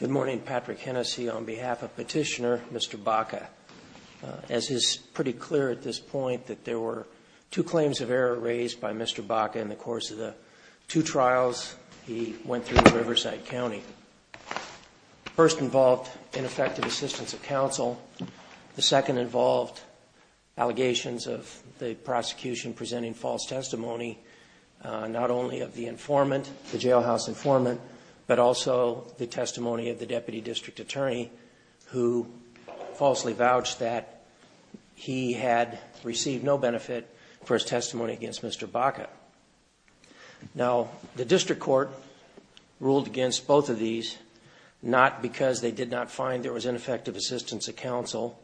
Good morning, Patrick Hennessy, on behalf of Petitioner Mr. Baca. As is pretty clear at this point that there were two claims of error raised by Mr. Baca in the course of the two trials he went through in Riverside County. The first involved ineffective assistance of counsel. The second involved allegations of the prosecution presenting false testimony, not only of the informant, the jailhouse informant, but also the testimony of the Deputy District Attorney, who falsely vouched that he had received no benefit for his testimony against Mr. Baca. Now, the district court ruled against both of these, not because they did not find there was ineffective assistance of counsel,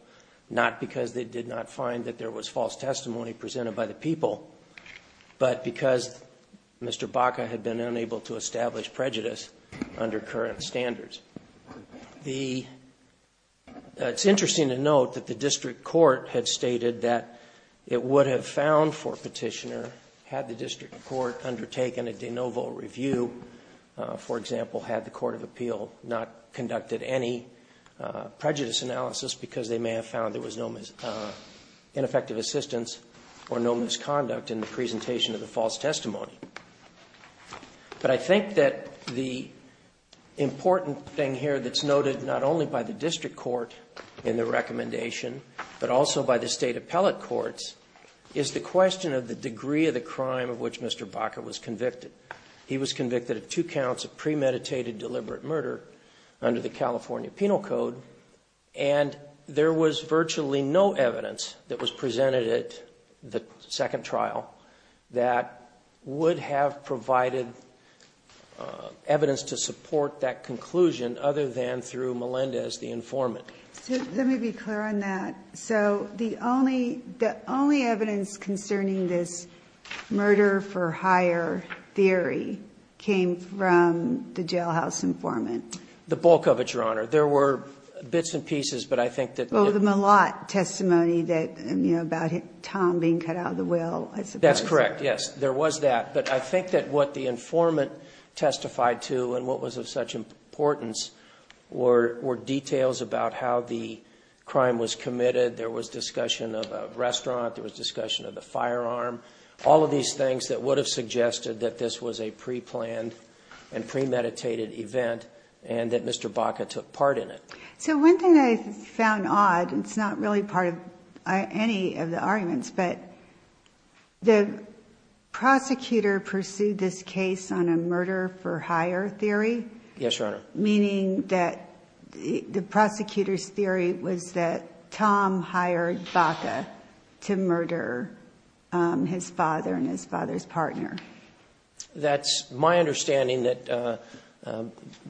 not because they did not find that there was false testimony presented by the people, but because Mr. Baca had been unable to establish prejudice under current standards. The – it's interesting to note that the district court had stated that it would have found for Petitioner, had the district court undertaken a de novo review, for example, had the court of appeal not conducted any prejudice analysis because they may have found there was no ineffective assistance or no misconduct in the presentation of the false testimony. But I think that the important thing here that's noted not only by the district court in the recommendation, but also by the State appellate courts, is the question of the degree of the crime of which Mr. Baca was convicted. He was convicted of two counts of premeditated deliberate murder under the California Penal Code, and there was virtually no evidence that was presented at the second trial that would have provided evidence to support that conclusion other than through Melendez, the informant. So let me be clear on that. So the only evidence concerning this murder-for-hire theory came from the jailhouse informant? The bulk of it, Your Honor. There were bits and pieces, but I think that the – about Tom being cut out of the will. That's correct, yes. There was that. But I think that what the informant testified to and what was of such importance were details about how the crime was committed. There was discussion of a restaurant. There was discussion of the firearm. All of these things that would have suggested that this was a preplanned and premeditated event and that Mr. Baca took part in it. So one thing that I found odd, and it's not really part of any of the arguments, but the prosecutor pursued this case on a murder-for-hire theory. Yes, Your Honor. Meaning that the prosecutor's theory was that Tom hired Baca to murder his father and his father's partner. That's my understanding, that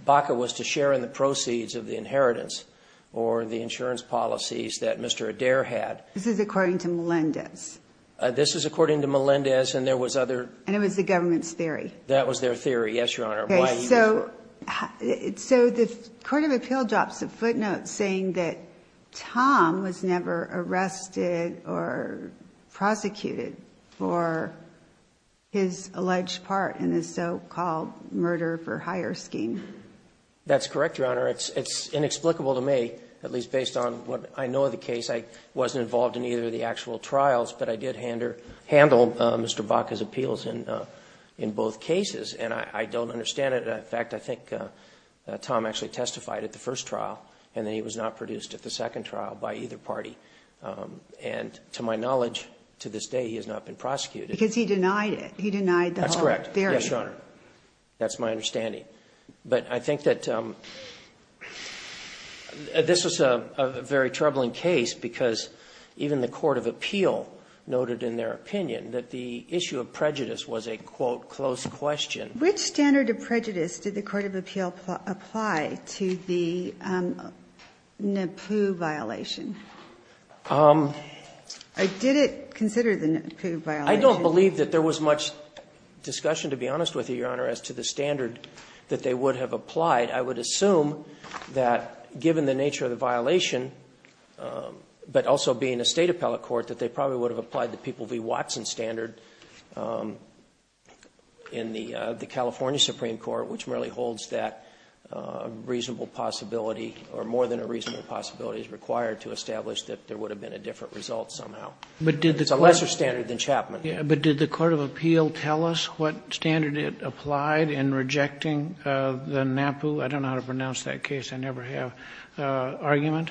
Baca was to share in the proceeds of the inheritance or the insurance policies that Mr. Adair had. This is according to Melendez. This is according to Melendez, and there was other – And it was the government's theory. That was their theory, yes, Your Honor. So the court of appeal drops a footnote saying that Tom was never arrested or prosecuted for his alleged part in the so-called murder-for-hire scheme. That's correct, Your Honor. It's inexplicable to me, at least based on what I know of the case. I wasn't involved in either of the actual trials, but I did handle Mr. Baca's appeals in both cases. And I don't understand it. In fact, I think Tom actually testified at the first trial, and then he was not produced at the second trial by either party. And to my knowledge, to this day, he has not been prosecuted. Because he denied it. He denied the whole theory. That's correct. Yes, Your Honor. That's my understanding. But I think that this was a very troubling case because even the court of appeal noted in their opinion that the issue of prejudice was a, quote, close question. Which standard of prejudice did the court of appeal apply to the NAPU violation? Did it consider the NAPU violation? I don't believe that there was much discussion, to be honest with you, Your Honor, as to the standard that they would have applied. I would assume that given the nature of the violation, but also being a State appellate court, that they probably would have applied the People v. Watson standard in the California Supreme Court, which merely holds that reasonable possibility or more than a reasonable possibility is required to establish that there would have been a different result somehow. It's a lesser standard than Chapman. But did the court of appeal tell us what standard it applied in rejecting the NAPU? I don't know how to pronounce that case. I never have argument.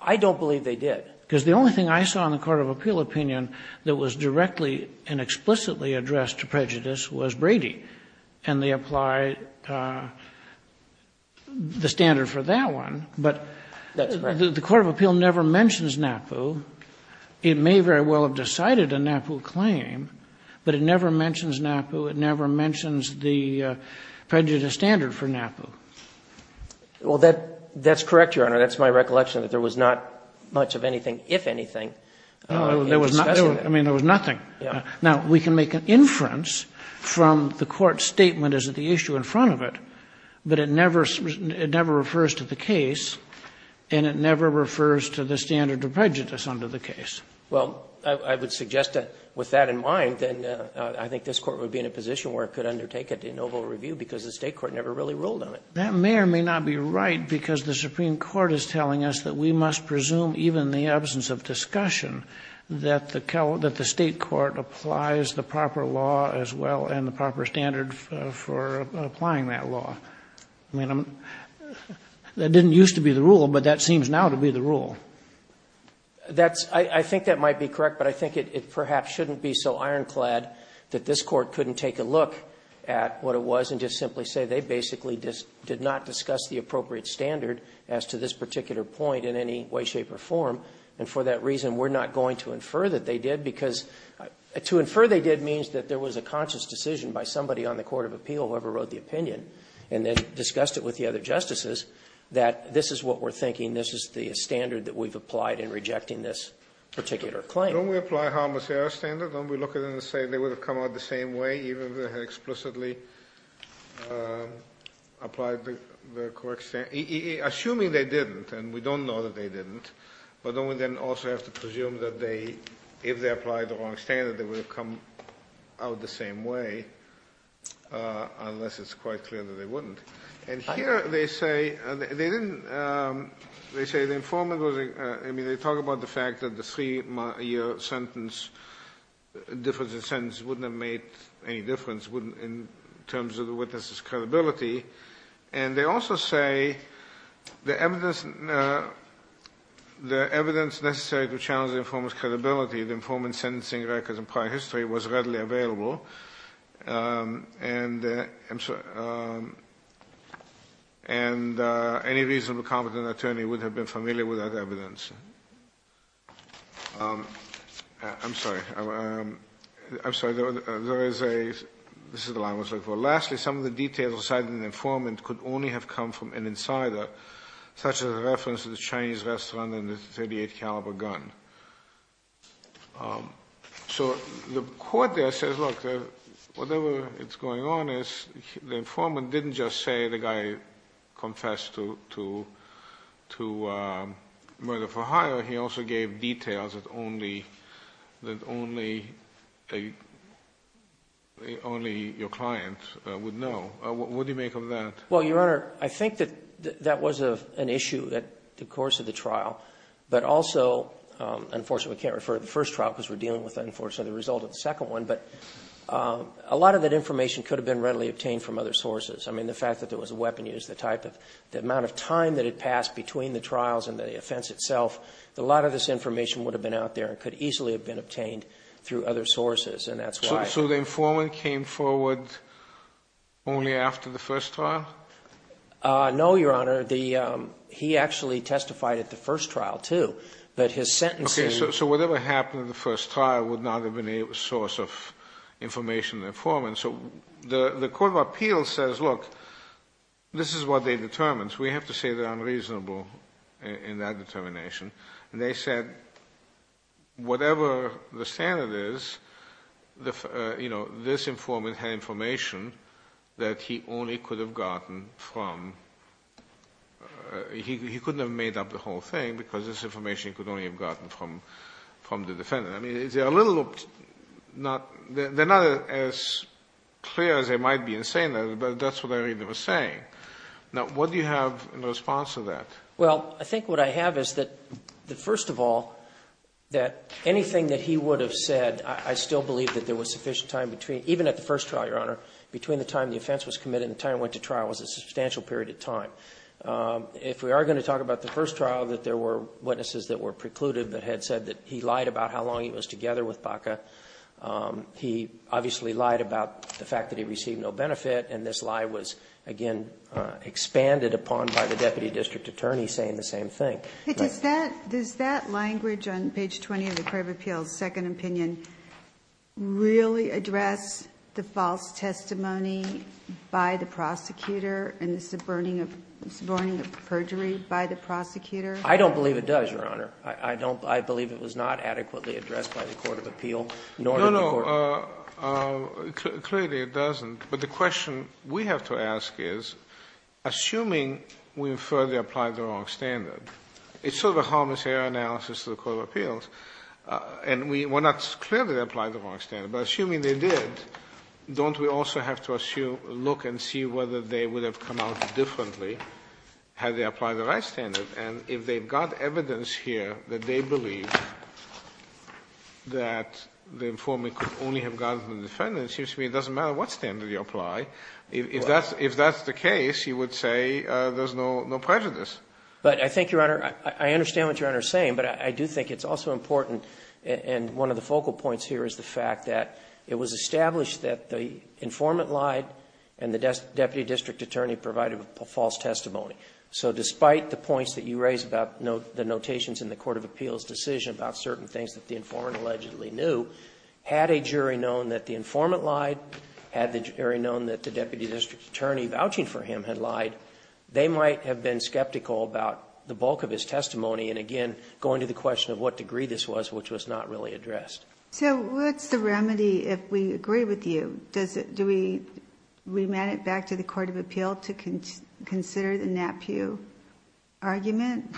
I don't believe they did. Because the only thing I saw in the court of appeal opinion that was directly and explicitly addressed to prejudice was Brady. And they applied the standard for that one. But the court of appeal never mentions NAPU. It may very well have decided a NAPU claim, but it never mentions NAPU. It never mentions the prejudice standard for NAPU. Well, that's correct, Your Honor. That's my recollection, that there was not much of anything, if anything, in discussion. I mean, there was nothing. Now, we can make an inference from the court's statement as to the issue in front of it, but it never refers to the case and it never refers to the standard of prejudice under the case. Well, I would suggest that with that in mind, then I think this Court would be in a position where it could undertake a de novo review because the State court never really ruled on it. That may or may not be right because the Supreme Court is telling us that we must presume, even in the absence of discussion, that the State court applies the proper law as well and the proper standard for applying that law. I mean, that didn't used to be the rule, but that seems now to be the rule. That's — I think that might be correct, but I think it perhaps shouldn't be so ironclad that this Court couldn't take a look at what it was and just simply say they basically did not discuss the appropriate standard as to this particular point in any way, shape, or form. And for that reason, we're not going to infer that they did, because to infer they did means that there was a conscious decision by somebody on the court of appeal, whoever wrote the opinion, and then discussed it with the other justices, that this is what we're thinking, this is the standard that we've applied in rejecting this particular claim. Don't we apply a harmless error standard? Don't we look at it and say they would have come out the same way even if they had explicitly applied the correct standard, assuming they didn't, and we don't know that they didn't, but don't we then also have to presume that they, if they applied the wrong standard, they would have come out the same way, unless it's quite clear that they wouldn't? And here they say they didn't — they say the informant was — I mean, they talk about the fact that the three-year sentence, difference of sentence, wouldn't have made any difference in terms of the witness's credibility, and they also say the evidence — the evidence necessary to challenge the informant's credibility, the informant's sentencing records in prior history, was readily available, and I'm sorry — and any reasonable, competent attorney would have been familiar with that evidence. I'm sorry. There is a — this is the line I was looking for. Lastly, some of the details cited in the informant could only have come from an insider, such as a reference to the Chinese restaurant and the .38 caliber gun. So the court there says, look, whatever is going on is the informant didn't just say the guy confessed to — to murder for hire, he also gave details that only — that only a — only your client would know. What do you make of that? Well, Your Honor, I think that that was an issue at the course of the trial, but also — unfortunately, we can't refer to the first trial because we're dealing with, unfortunately, the result of the second one, but a lot of that information could have been readily obtained from other sources. I mean, the fact that there was a weapon used, the type of — the amount of time that had passed between the trials and the offense itself, a lot of this information would have been out there and could easily have been obtained through other sources, and that's why — So the informant came forward only after the first trial? No, Your Honor. The — he actually testified at the first trial, too, but his sentencing — Okay. to the informant. So the court of appeals says, look, this is what they determined, so we have to say they're unreasonable in that determination, and they said, whatever the standard is, you know, this informant had information that he only could have gotten from — he couldn't have made up the whole thing because this information he could only have gotten from the defendant. I mean, they're a little not — they're not as clear as they might be in saying that, but that's what I read they were saying. Now, what do you have in response to that? Well, I think what I have is that, first of all, that anything that he would have said, I still believe that there was sufficient time between — even at the first trial, Your Honor, between the time the offense was committed and the time it went to trial was a substantial period of time. If we are going to talk about the first trial, that there were witnesses that were precluded that had said that he lied about how long he was together with Baca. He obviously lied about the fact that he received no benefit, and this lie was, again, expanded upon by the deputy district attorney saying the same thing. But does that — does that language on page 20 of the court of appeals' second opinion really address the false testimony by the prosecutor in the subverting of — subverting of perjury by the prosecutor? I don't believe it does, Your Honor. I don't — I believe it was not adequately addressed by the court of appeal, nor did the court of appeals. No, no, clearly it doesn't, but the question we have to ask is, assuming we infer they applied the wrong standard, it's sort of a harmless error analysis to the court of appeals, and we're not clear that they applied the wrong standard, but assuming they did, don't we also have to look and see whether they would have come out differently had they applied the right standard? And if they've got evidence here that they believe that the informant could only have gotten the defendant, it seems to me it doesn't matter what standard you apply. If that's the case, you would say there's no prejudice. But I think, Your Honor, I understand what Your Honor is saying, but I do think it's also important, and one of the focal points here is the fact that it was established that the informant lied and the deputy district attorney provided a false testimony. So despite the points that you raised about the notations in the court of appeals decision about certain things that the informant allegedly knew, had a jury known that the informant lied, had the jury known that the deputy district attorney vouching for him had lied, they might have been skeptical about the bulk of his testimony and, again, going to the question of what degree this was, which was not really addressed. So what's the remedy, if we agree with you? Do we remand it back to the court of appeal to consider the NAPIU argument?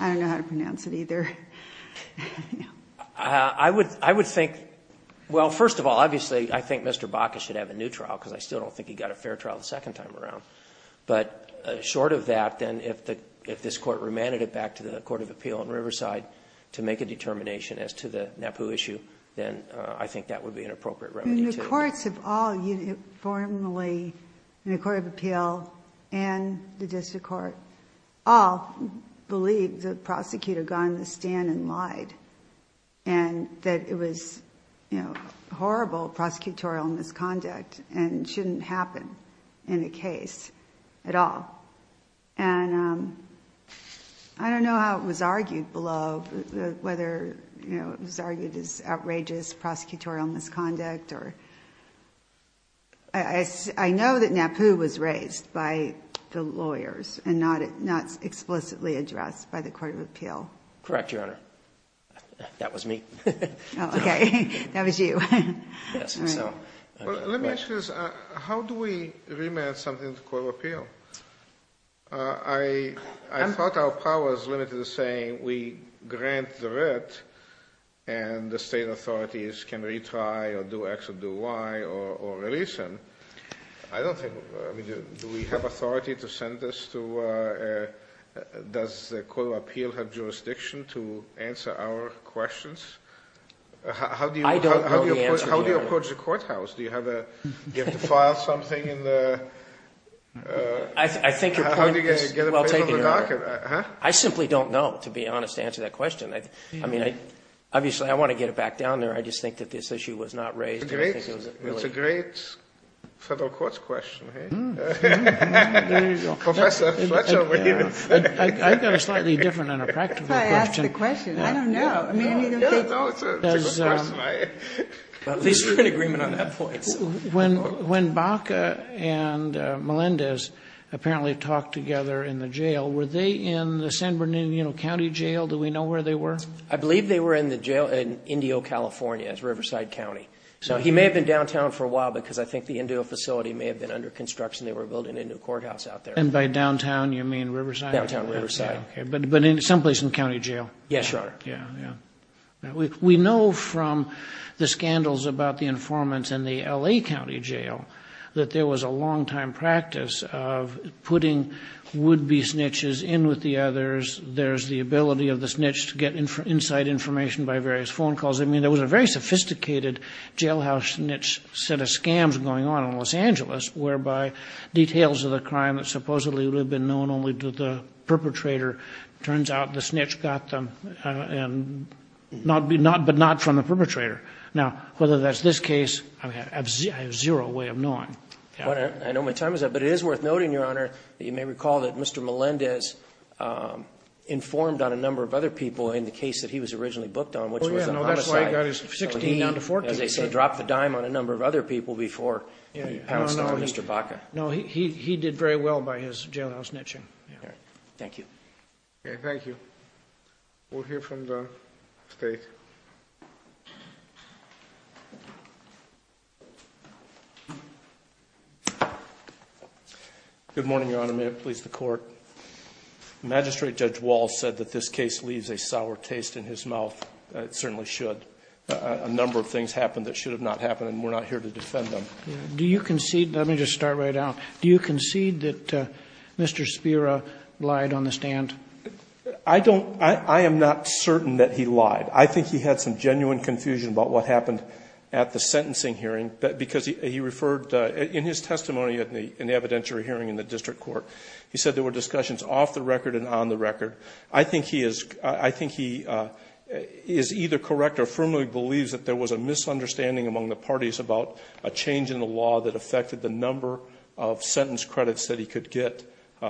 I don't know how to pronounce it either. I would think, well, first of all, obviously, I think Mr. Baca should have a new trial because I still don't think he got a fair trial the second time around. But short of that, then, if this court remanded it back to the court of appeal in Riverside to make a determination as to the NAPIU issue, then I think that would be an appropriate remedy, too. The courts have all uniformly, in the court of appeal and the district court, all believed the prosecutor got on the stand and lied and that it was, you know, I don't know how it was argued below, whether it was argued as outrageous prosecutorial misconduct. I know that NAPIU was raised by the lawyers and not explicitly addressed by the court of appeal. Correct, Your Honor. That was me. Oh, okay. That was you. Well, let me ask you this. How do we remand something to the court of appeal? I thought our power was limited to saying we grant the writ and the state authorities can retry or do X or do Y or release them. I don't think, I mean, do we have authority to send this to, does the court of appeal have jurisdiction to answer our questions? I don't know the answer, Your Honor. How do you approach the courthouse? Do you have to file something in the, how do you get it put on the docket? I simply don't know, to be honest, to answer that question. I mean, obviously, I want to get it back down there. I just think that this issue was not raised. It's a great federal courts question. There you go. Professor Fletcher. I've got a slightly different and a practical question. That's a good question. I don't know. It's a good question. At least we're in agreement on that point. When Baca and Melendez apparently talked together in the jail, were they in the San Bernardino County Jail? Do we know where they were? I believe they were in the jail in Indio, California. It's Riverside County. So he may have been downtown for a while because I think the Indio facility may have been under construction. They were building a new courthouse out there. And by downtown, you mean Riverside? Downtown Riverside. But someplace in the county jail? Yes, Your Honor. We know from the scandals about the informants in the L.A. County Jail that there was a long-time practice of putting would-be snitches in with the others. There's the ability of the snitch to get inside information by various phone calls. I mean, there was a very sophisticated jailhouse snitch set of scams going on in Los Angeles, whereby details of the crime that supposedly would have been known only to the perpetrator, turns out the snitch got them, but not from the perpetrator. Now, whether that's this case, I have zero way of knowing. I know my time is up. But it is worth noting, Your Honor, that you may recall that Mr. Melendez informed on a number of other people in the case that he was originally booked on, which was the homicide. Oh, yeah. No, that's right. He got his 16. As they say, dropped the dime on a number of other people before he passed away. Mr. Baca. No, he did very well by his jailhouse snitching. Thank you. Okay. Thank you. We'll hear from the State. Good morning, Your Honor. May it please the Court. Magistrate Judge Wall said that this case leaves a sour taste in his mouth. It certainly should. A number of things happened that should have not happened, and we're not here to defend them. Do you concede? Let me just start right now. Do you concede that Mr. Spira lied on the stand? I don't. I am not certain that he lied. I think he had some genuine confusion about what happened at the sentencing hearing, because he referred, in his testimony at the evidentiary hearing in the district court, he said there were discussions off the record and on the record. I think he is either correct or firmly believes that there was a misunderstanding among the parties about a change in the law that affected the number of sentence credits that he could get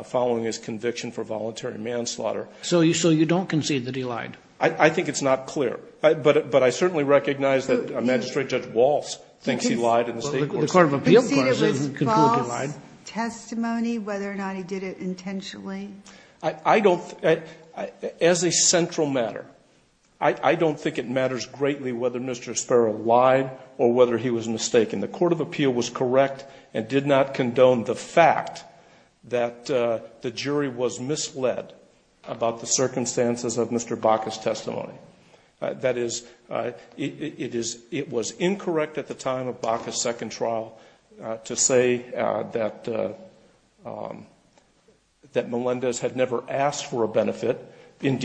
following his conviction for voluntary manslaughter. So you don't concede that he lied? I think it's not clear. But I certainly recognize that Magistrate Judge Wall thinks he lied in the State court. The court of appeals concluded he lied. Do you concede it was false testimony, whether or not he did it intentionally? I don't. As a central matter, I don't think it matters greatly whether Mr. Spira lied or whether he was mistaken. The court of appeal was correct and did not condone the fact that the jury was misled about the circumstances of Mr. Baca's testimony. That is, it was incorrect at the time of Baca's second trial to say that Melendez had never asked for a benefit. And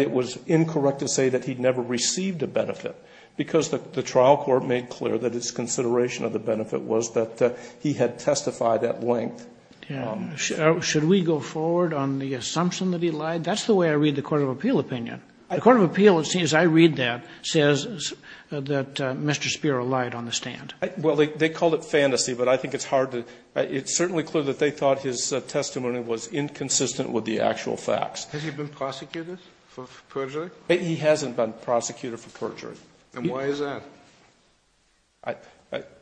it was incorrect to say that he never received a benefit, because the trial court made clear that its consideration of the benefit was that he had testified at length. Should we go forward on the assumption that he lied? That's the way I read the court of appeal opinion. The court of appeal, it seems I read that, says that Mr. Spira lied on the stand. Well, they called it fantasy, but I think it's hard to – it's certainly clear that they thought his testimony was inconsistent with the actual facts. Has he been prosecuted for perjury? He hasn't been prosecuted for perjury. And why is that?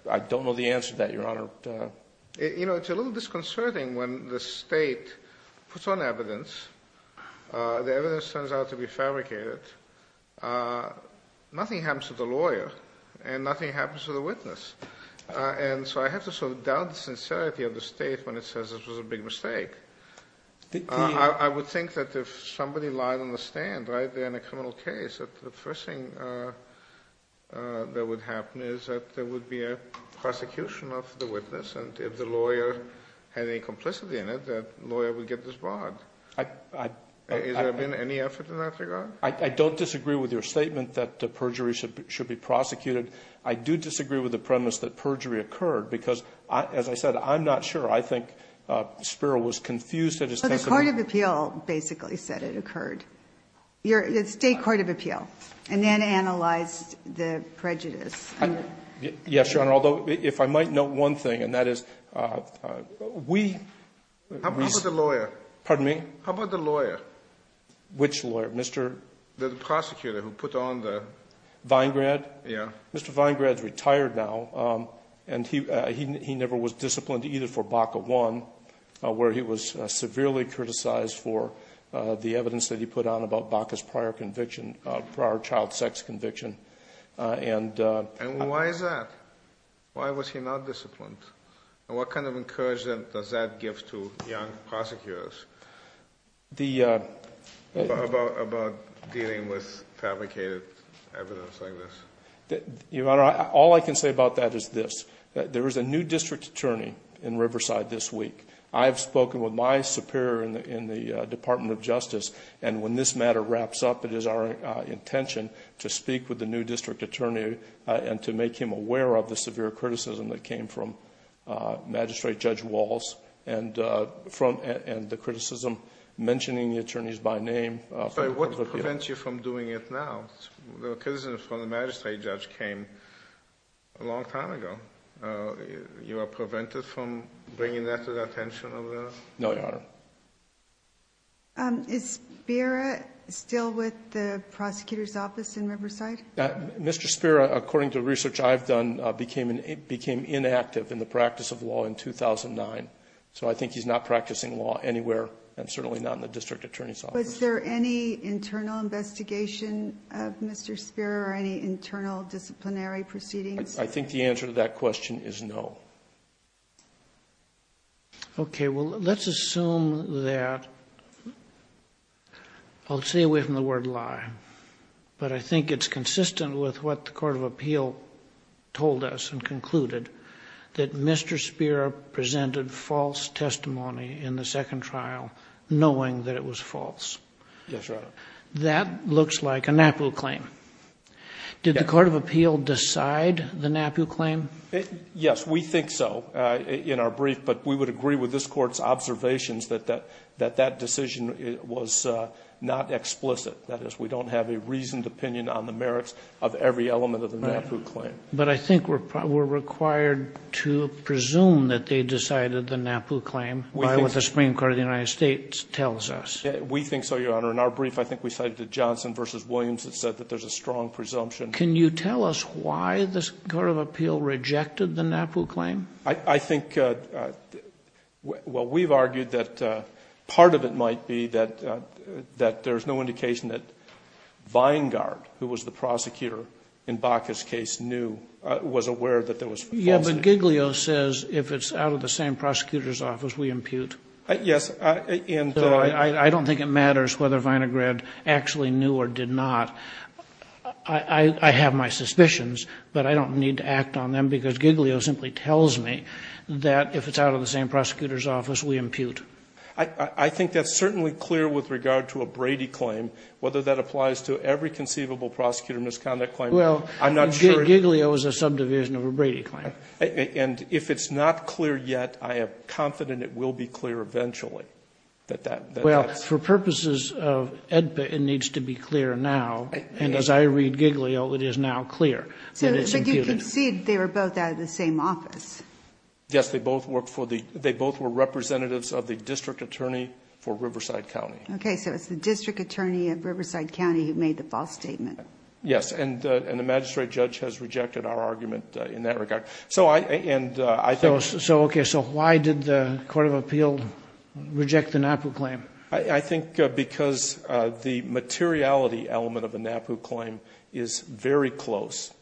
I don't know the answer to that, Your Honor. You know, it's a little disconcerting when the State puts on evidence, the evidence turns out to be fabricated. Nothing happens to the lawyer and nothing happens to the witness. And so I have to sort of doubt the sincerity of the State when it says this was a big mistake. I would think that if somebody lied on the stand right there in a criminal case, that the first thing that would happen is that there would be a prosecution of the witness, and if the lawyer had any complicity in it, that the lawyer would get disbarred. Has there been any effort in that regard? I don't disagree with your statement that perjury should be prosecuted. I do disagree with the premise that perjury occurred, because as I said, I'm not sure. I think Spiro was confused at his testimony. But the court of appeal basically said it occurred. The State court of appeal. And then analyzed the prejudice. Yes, Your Honor. Although, if I might note one thing, and that is we ---- How about the lawyer? Pardon me? How about the lawyer? Which lawyer? Mr. ---- The prosecutor who put on the ---- Vingrad? Yes. Mr. Vingrad is retired now. And he never was disciplined either for BACA I, where he was severely criticized for the evidence that he put on about BACA's prior conviction, prior child sex conviction. And ---- And why is that? Why was he not disciplined? And what kind of encouragement does that give to young prosecutors? The ---- About dealing with fabricated evidence like this? Your Honor, all I can say about that is this. There is a new district attorney in Riverside this week. I have spoken with my superior in the Department of Justice. And when this matter wraps up, it is our intention to speak with the new district attorney and to make him aware of the severe criticism that came from Magistrate Judge Walls and the criticism mentioning the attorneys by name. What prevents you from doing it now? The criticism from the magistrate judge came a long time ago. You are prevented from bringing that to the attention of the ---- No, Your Honor. Is Spira still with the prosecutor's office in Riverside? Mr. Spira, according to research I've done, became inactive in the practice of law in 2009. So I think he's not practicing law anywhere and certainly not in the district attorney's office. Was there any internal investigation of Mr. Spira or any internal disciplinary proceedings? I think the answer to that question is no. Okay. Well, let's assume that ---- I'll stay away from the word lie. But I think it's consistent with what the court of appeal told us and concluded that Mr. Spira presented false testimony in the second trial knowing that it was false. Yes, Your Honor. That looks like a NAPU claim. Did the court of appeal decide the NAPU claim? Yes, we think so in our brief, but we would agree with this court's observations that that decision was not explicit. That is, we don't have a reasoned opinion on the merits of every element of the NAPU claim. But I think we're required to presume that they decided the NAPU claim, what the Supreme Court of the United States tells us. We think so, Your Honor. In our brief, I think we cited the Johnson v. Williams that said that there's a strong presumption. Can you tell us why the court of appeal rejected the NAPU claim? I think, well, we've argued that part of it might be that there's no indication that Weingart, who was the prosecutor in Baca's case, knew, was aware that there was false testimony. Yes, but Giglio says if it's out of the same prosecutor's office, we impute. Yes. I don't think it matters whether Weingart actually knew or did not. I have my suspicions, but I don't need to act on them because Giglio simply tells me that if it's out of the same prosecutor's office, we impute. I think that's certainly clear with regard to a Brady claim, whether that applies to every conceivable prosecutor misconduct claim. Well, Giglio is a subdivision of a Brady claim. And if it's not clear yet, I am confident it will be clear eventually. Well, for purposes of AEDPA, it needs to be clear now. And as I read Giglio, it is now clear that it's imputed. But you concede they were both out of the same office. Yes, they both were representatives of the district attorney for Riverside County. Okay. So it's the district attorney of Riverside County who made the false statement. Yes. And the magistrate judge has rejected our argument in that regard. So I think so. Okay. So why did the court of appeal reject the NAPU claim? I think because the materiality element of a NAPU claim is very close,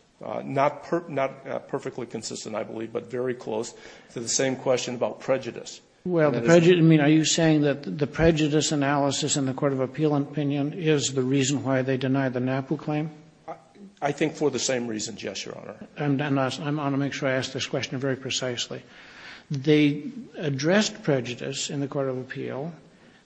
not perfectly consistent, I believe, but very close to the same question about prejudice. Well, are you saying that the prejudice analysis in the court of appeal opinion is the reason why they denied the NAPU claim? I think for the same reasons, yes, Your Honor. I want to make sure I ask this question very precisely. They addressed prejudice in the court of appeal.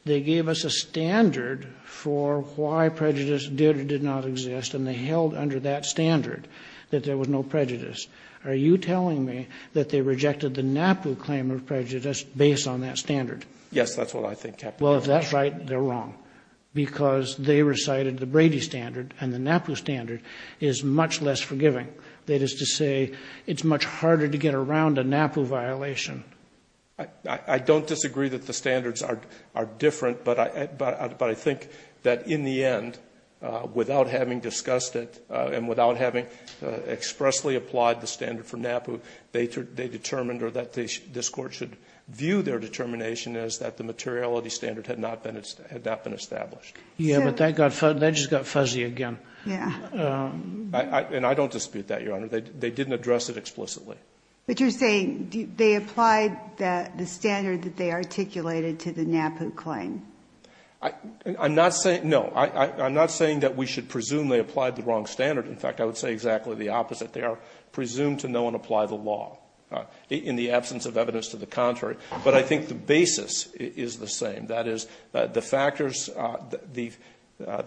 They gave us a standard for why prejudice did or did not exist, and they held under that standard that there was no prejudice. Are you telling me that they rejected the NAPU claim of prejudice based on that standard? Yes, that's what I think, Captain. Well, if that's right, they're wrong, because they recited the Brady standard and the NAPU standard is much less forgiving. That is to say, it's much harder to get around a NAPU violation. I don't disagree that the standards are different, but I think that in the end, without having discussed it and without having expressly applied the standard for NAPU, they determined or that this Court should view their determination as that the materiality standard had not been established. Yes, but that just got fuzzy again. Yes. And I don't dispute that, Your Honor. They didn't address it explicitly. But you're saying they applied the standard that they articulated to the NAPU claim. I'm not saying no. I'm not saying that we should presume they applied the wrong standard. In fact, I would say exactly the opposite. They are presumed to know and apply the law in the absence of evidence to the contrary. But I think the basis is the same. That is, the factors, the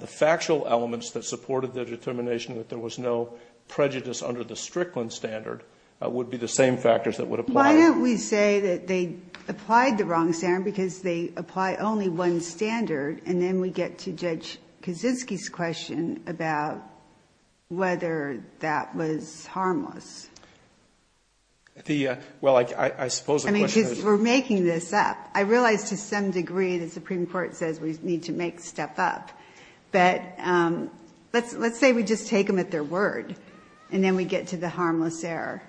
factual elements that supported their determination that there was no prejudice under the Strickland standard would be the same factors that would apply. Why don't we say that they applied the wrong standard because they apply only one standard, and then we get to Judge Kaczynski's question about whether that was harmless. The, well, I suppose the question is. I mean, because we're making this up. I realize to some degree the Supreme Court says we need to make step up. But let's say we just take them at their word, and then we get to the harmless error.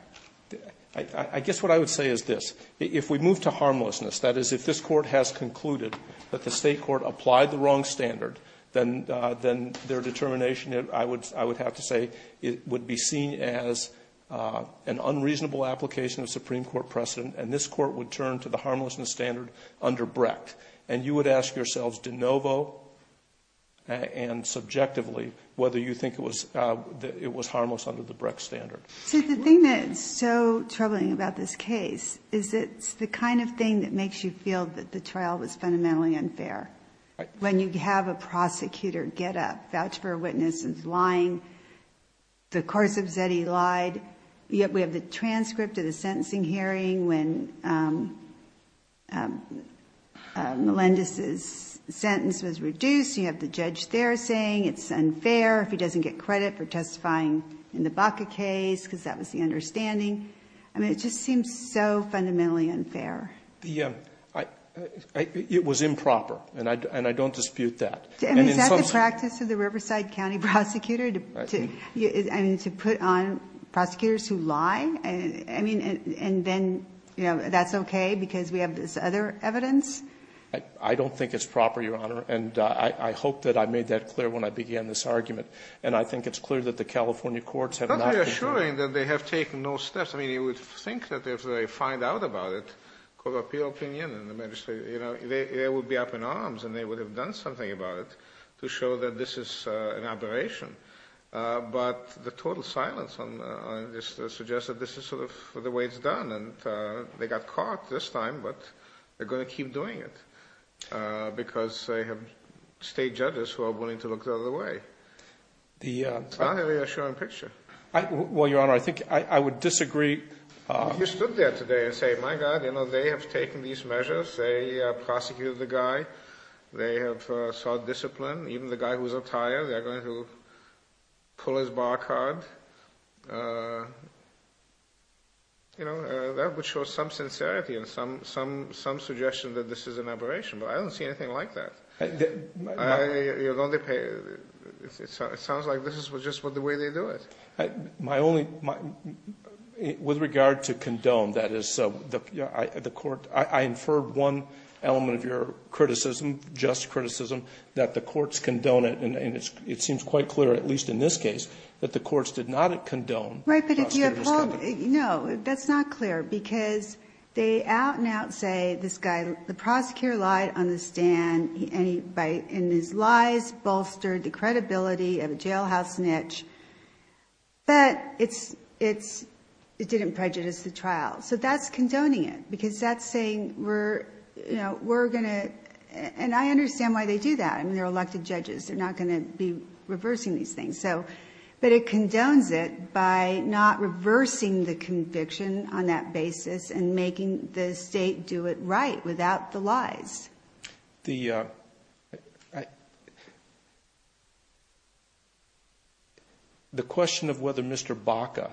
I guess what I would say is this. If we move to harmlessness, that is, if this Court has concluded that the State Court applied the wrong standard, then their determination, I would have to say, would be seen as an unreasonable application of Supreme Court precedent, and this is under Brecht. And you would ask yourselves de novo and subjectively whether you think it was harmless under the Brecht standard. So the thing that's so troubling about this case is it's the kind of thing that makes you feel that the trial was fundamentally unfair. Right. When you have a prosecutor get up, vouch for a witness who's lying, the course hearing when Melendez's sentence was reduced, you have the judge there saying it's unfair if he doesn't get credit for testifying in the Baca case, because that was the understanding. I mean, it just seems so fundamentally unfair. The, it was improper, and I don't dispute that. I mean, is that the practice of the Riverside County prosecutor, to put on prosecutors who lie? I mean, and then, you know, that's okay because we have this other evidence? I don't think it's proper, Your Honor. And I hope that I made that clear when I began this argument, and I think it's clear that the California courts have not been clear. Don't be assuring that they have taken no steps. I mean, you would think that if they find out about it, court of appeal opinion and the magistrate, you know, they would be up in arms and they would have done something about it to show that this is an aberration. But the total silence on this suggests that this is sort of the way it's done, and they got caught this time, but they're going to keep doing it, because they have state judges who are willing to look the other way. It's not a reassuring picture. Well, Your Honor, I think I would disagree. If you stood there today and said, my God, you know, they have taken these measures. They prosecuted the guy. They have sought discipline. Even the guy who was up higher, they are going to pull his bar card. You know, that would show some sincerity and some suggestion that this is an aberration. But I don't see anything like that. It sounds like this is just the way they do it. My only ñ with regard to condone, that is, the court ñ I inferred one element of your criticism, just criticism, that the courts condone it, and it seems quite clear, at least in this case, that the courts did not condone the prosecutor's conduct. Right, but if you have held ñ no, that's not clear, because they out and out say, this guy, the prosecutor lied on the stand, and his lies bolstered the credibility of a jailhouse niche, but it didn't prejudice the trial. So that's condoning it, because that's saying we're going to ñ and I understand why they do that. I mean, they're elected judges. They're not going to be reversing these things. But it condones it by not reversing the conviction on that basis and making the state do it right without the lies. The ñ the question of whether Mr. Baca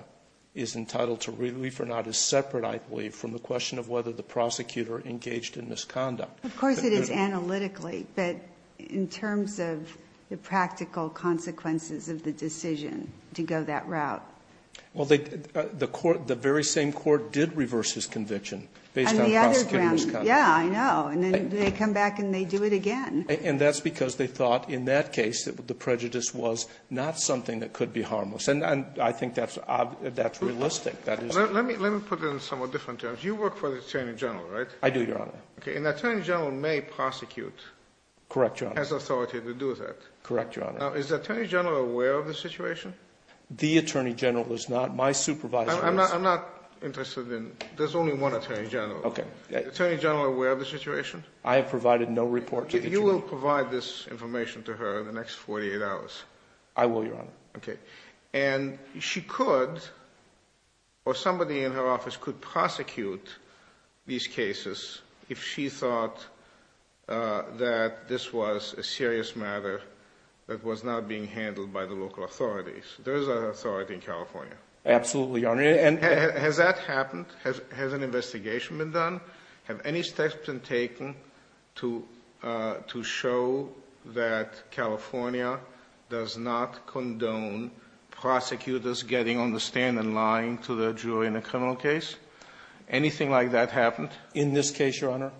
is entitled to relief or not is separate, I believe, from the question of whether the prosecutor engaged in misconduct. Of course it is analytically, but in terms of the practical consequences of the decision to go that route. Well, the court ñ the very same court did reverse his conviction based on prosecutor misconduct. Yeah, I know. And then they come back and they do it again. And that's because they thought in that case that the prejudice was not something that could be harmless. And I think that's ñ that's realistic. That is ñ Let me put it in somewhat different terms. You work for the attorney general, right? I do, Your Honor. Okay. An attorney general may prosecute. Correct, Your Honor. Has authority to do that. Correct, Your Honor. Now, is the attorney general aware of the situation? The attorney general is not. My supervisor is. I'm not ñ I'm not interested in ñ there's only one attorney general. Okay. Is the attorney general aware of the situation? I have provided no report to the jury. You will provide this information to her in the next 48 hours? I will, Your Honor. Okay. And she could ñ or somebody in her office could prosecute these cases if she thought that this was a serious matter that was not being handled by the local authorities. There is an authority in California. Absolutely, Your Honor. And ñ Has that happened? Has an investigation been done? Have any steps been taken to show that California does not condone prosecutors getting on the stand and lying to the jury in a criminal case? Anything like that happened? In this case, Your Honor?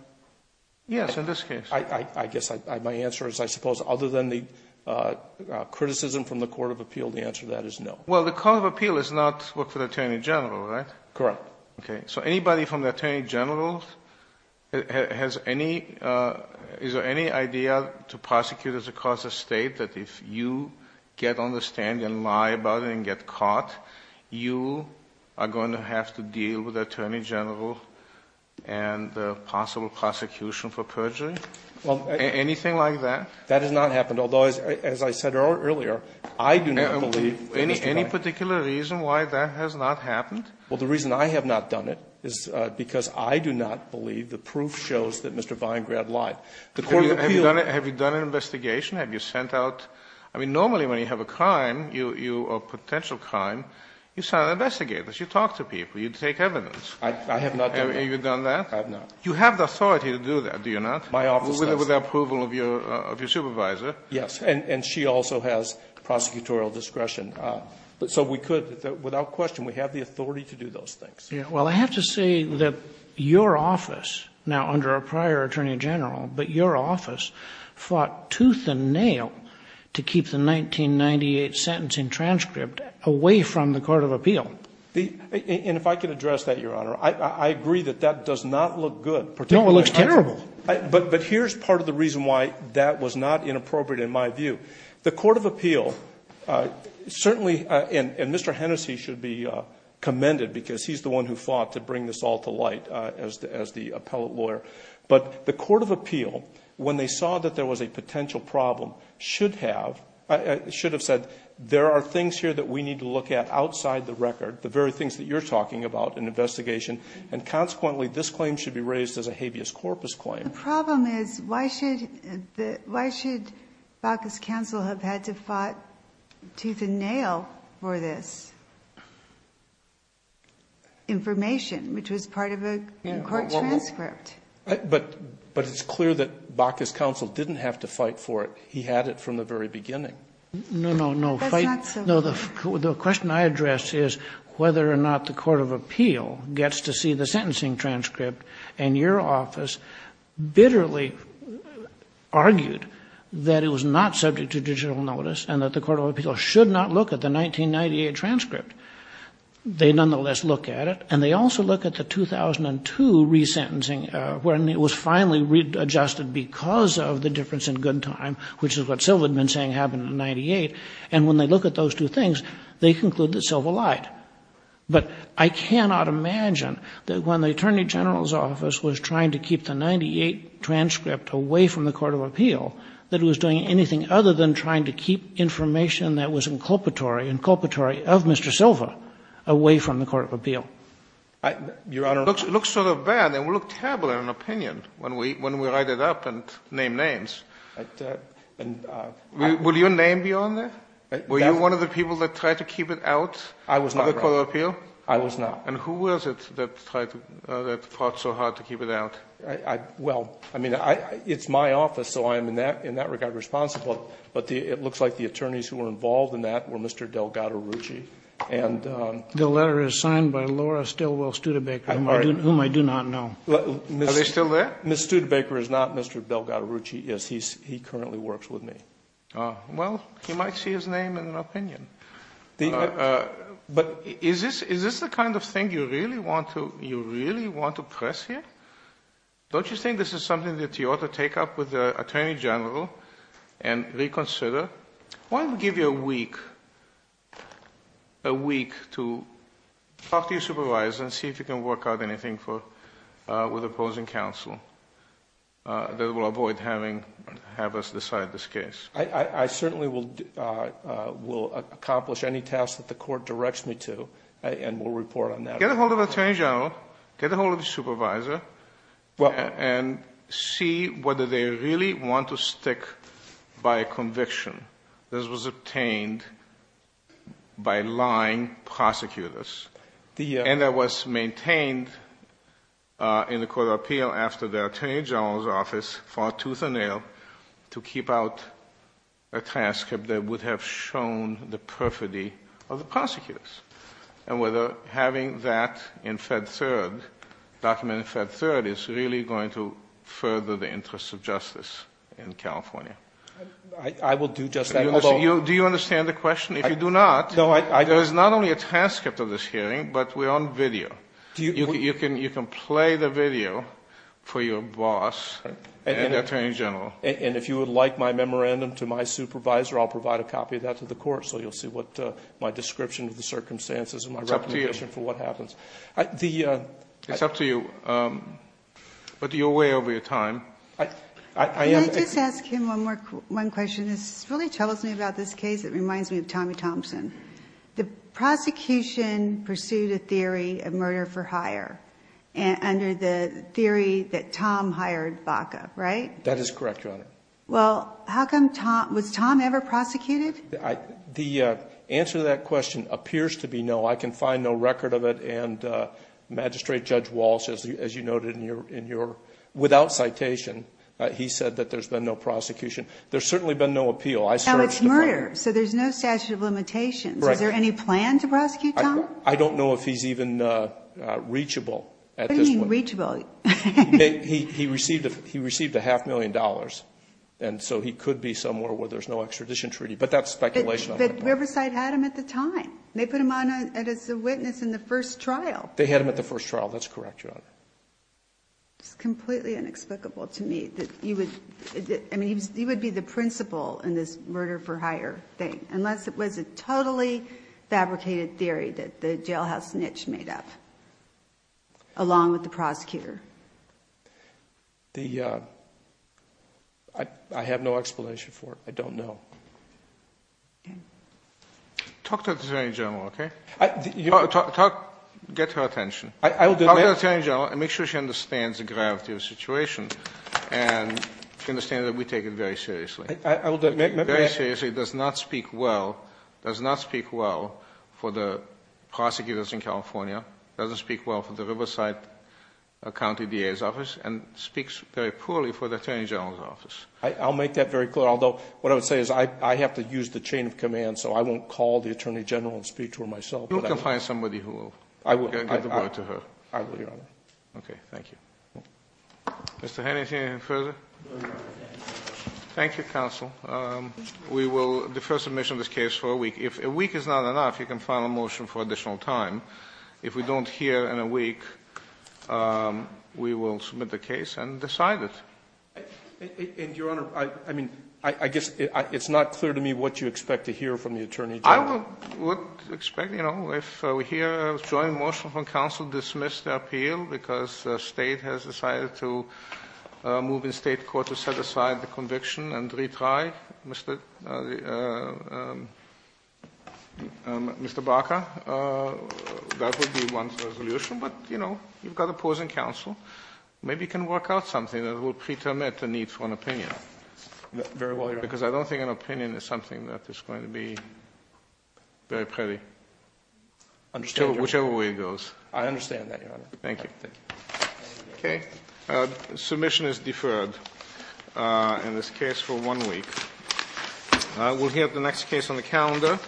Yes, in this case. I guess my answer is I suppose other than the criticism from the court of appeal, the answer to that is no. Well, the court of appeal does not work for the attorney general, right? Correct. Okay. So anybody from the attorney general has any ñ is there any idea to prosecutors across the State that if you get on the stand and lie about it and get caught, you are going to have to deal with the attorney general and the possible prosecution for perjury? Well ñ Anything like that? That has not happened, although, as I said earlier, I do not believe that Mr. Kline ñ The reason I have not done it is because I do not believe the proof shows that Mr. Weingrad lied. The court of appeal ñ Have you done an investigation? Have you sent out ñ I mean, normally when you have a crime, you ñ a potential crime, you send out investigators. You talk to people. You take evidence. I have not done that. Have you done that? I have not. You have the authority to do that, do you not? My office does. With the approval of your supervisor. Yes. And she also has prosecutorial discretion. So we could, without question, we have the authority to do those things. Well, I have to say that your office, now under a prior attorney general, but your office fought tooth and nail to keep the 1998 sentencing transcript away from the court of appeal. And if I could address that, Your Honor, I agree that that does not look good. No, it looks terrible. But here is part of the reason why that was not inappropriate in my view. The court of appeal certainly ñ and Mr. Hennessy should be commended because he is the one who fought to bring this all to light as the appellate lawyer. But the court of appeal, when they saw that there was a potential problem, should have ñ should have said there are things here that we need to look at outside the record, the very things that you are talking about in investigation. And consequently, this claim should be raised as a habeas corpus claim. But the problem is, why should the ñ why should Bacchus counsel have had to fight tooth and nail for this information, which was part of a court transcript? But it's clear that Bacchus counsel didn't have to fight for it. He had it from the very beginning. No, no, no. That's not so. The question I address is whether or not the court of appeal gets to see the sentencing transcript and your office bitterly argued that it was not subject to judicial notice and that the court of appeal should not look at the 1998 transcript. They nonetheless look at it, and they also look at the 2002 resentencing, when it was finally read ñ adjusted because of the difference in good time, which is what Silva had been saying happened in 98. And when they look at those two things, they conclude that Silva lied. But I cannot imagine that when the Attorney General's office was trying to keep the 98 transcript away from the court of appeal, that it was doing anything other than trying to keep information that was inculpatory, inculpatory of Mr. Silva, away from the court of appeal. Your Honor. It looks sort of bad. It would look terrible in an opinion when we write it up and name names. Will your name be on there? Were you one of the people that tried to keep it out? I was not, Your Honor. Of the court of appeal? I was not. And who was it that tried to ñ that fought so hard to keep it out? Well, I mean, it's my office, so I am in that ñ in that regard responsible. But it looks like the attorneys who were involved in that were Mr. Delgado-Rucci and ñ The letter is signed by Laura Stilwell Studebaker, whom I do not know. Are they still there? Ms. Studebaker is not Mr. Delgado-Rucci, yes. He currently works with me. Well, you might see his name in an opinion. But is this the kind of thing you really want to press here? Don't you think this is something that you ought to take up with the attorney general and reconsider? Why don't we give you a week to talk to your supervisor and see if you can work out anything with opposing counsel that will avoid having us decide this case? I certainly will accomplish any task that the court directs me to, and we'll report on that. Get a hold of the attorney general. Get a hold of your supervisor and see whether they really want to stick by conviction. This was obtained by lying prosecutors. And that was maintained in the court of appeal after the attorney general's office fought tooth and nail to keep out a transcript that would have shown the perfidy of the prosecutors, and whether having that in Fed Third, documented in Fed Third, is really going to further the interests of justice in California. I will do just that. Do you understand the question? If you do not, there is not only a transcript of this hearing, but we're on video. You can play the video for your boss and the attorney general. And if you would like my memorandum to my supervisor, I'll provide a copy of that to the court so you'll see my description of the circumstances and my reputation for what happens. It's up to you. But you're way over your time. Can I just ask him one question? This really troubles me about this case. It reminds me of Tommy Thompson. The prosecution pursued a theory of murder for hire under the theory that Tom hired Baca, right? That is correct, Your Honor. Well, was Tom ever prosecuted? The answer to that question appears to be no. I can find no record of it, and Magistrate Judge Walsh, as you noted, without citation, he said that there's been no prosecution. There's certainly been no appeal. No, it's murder, so there's no statute of limitations. Is there any plan to prosecute Tom? I don't know if he's even reachable at this point. What do you mean reachable? He received a half million dollars, and so he could be somewhere where there's no extradition treaty. But that's speculation. But Riverside had him at the time. They put him on as a witness in the first trial. They had him at the first trial. That's correct, Your Honor. It's completely inexplicable to me that you would be the principal in this murder for hire thing, unless it was a totally fabricated theory that the jailhouse niche made up, along with the prosecutor. I have no explanation for it. I don't know. Talk to the attorney general, okay? Get her attention. Talk to the attorney general and make sure she understands the gravity of the situation and understand that we take it very seriously. Very seriously. It does not speak well. It does not speak well for the prosecutors in California. It doesn't speak well for the Riverside County DA's office and speaks very poorly for the attorney general's office. I'll make that very clear, although what I would say is I have to use the chain of command, so I won't call the attorney general and speak to her myself. You can find somebody who will get the word to her. I will, Your Honor. Okay. Thank you. Mr. Haney, is there anything further? Thank you, counsel. We will defer submission of this case for a week. If a week is not enough, you can file a motion for additional time. If we don't hear in a week, we will submit the case and decide it. And, Your Honor, I mean, I guess it's not clear to me what you expect to hear from the attorney general. I would expect, you know, if we hear a joint motion from counsel to dismiss the appeal because the State has decided to move in State court to set aside the conviction and retry, Mr. Barker, that would be one resolution. But, you know, you've got opposing counsel. Maybe you can work out something that will pretermine the need for an opinion. Very well, Your Honor. Because I don't think an opinion is something that is going to be very pretty, whichever way it goes. I understand that, Your Honor. Thank you. Okay. Submission is deferred in this case for one week. We will hear the next case on the calendar.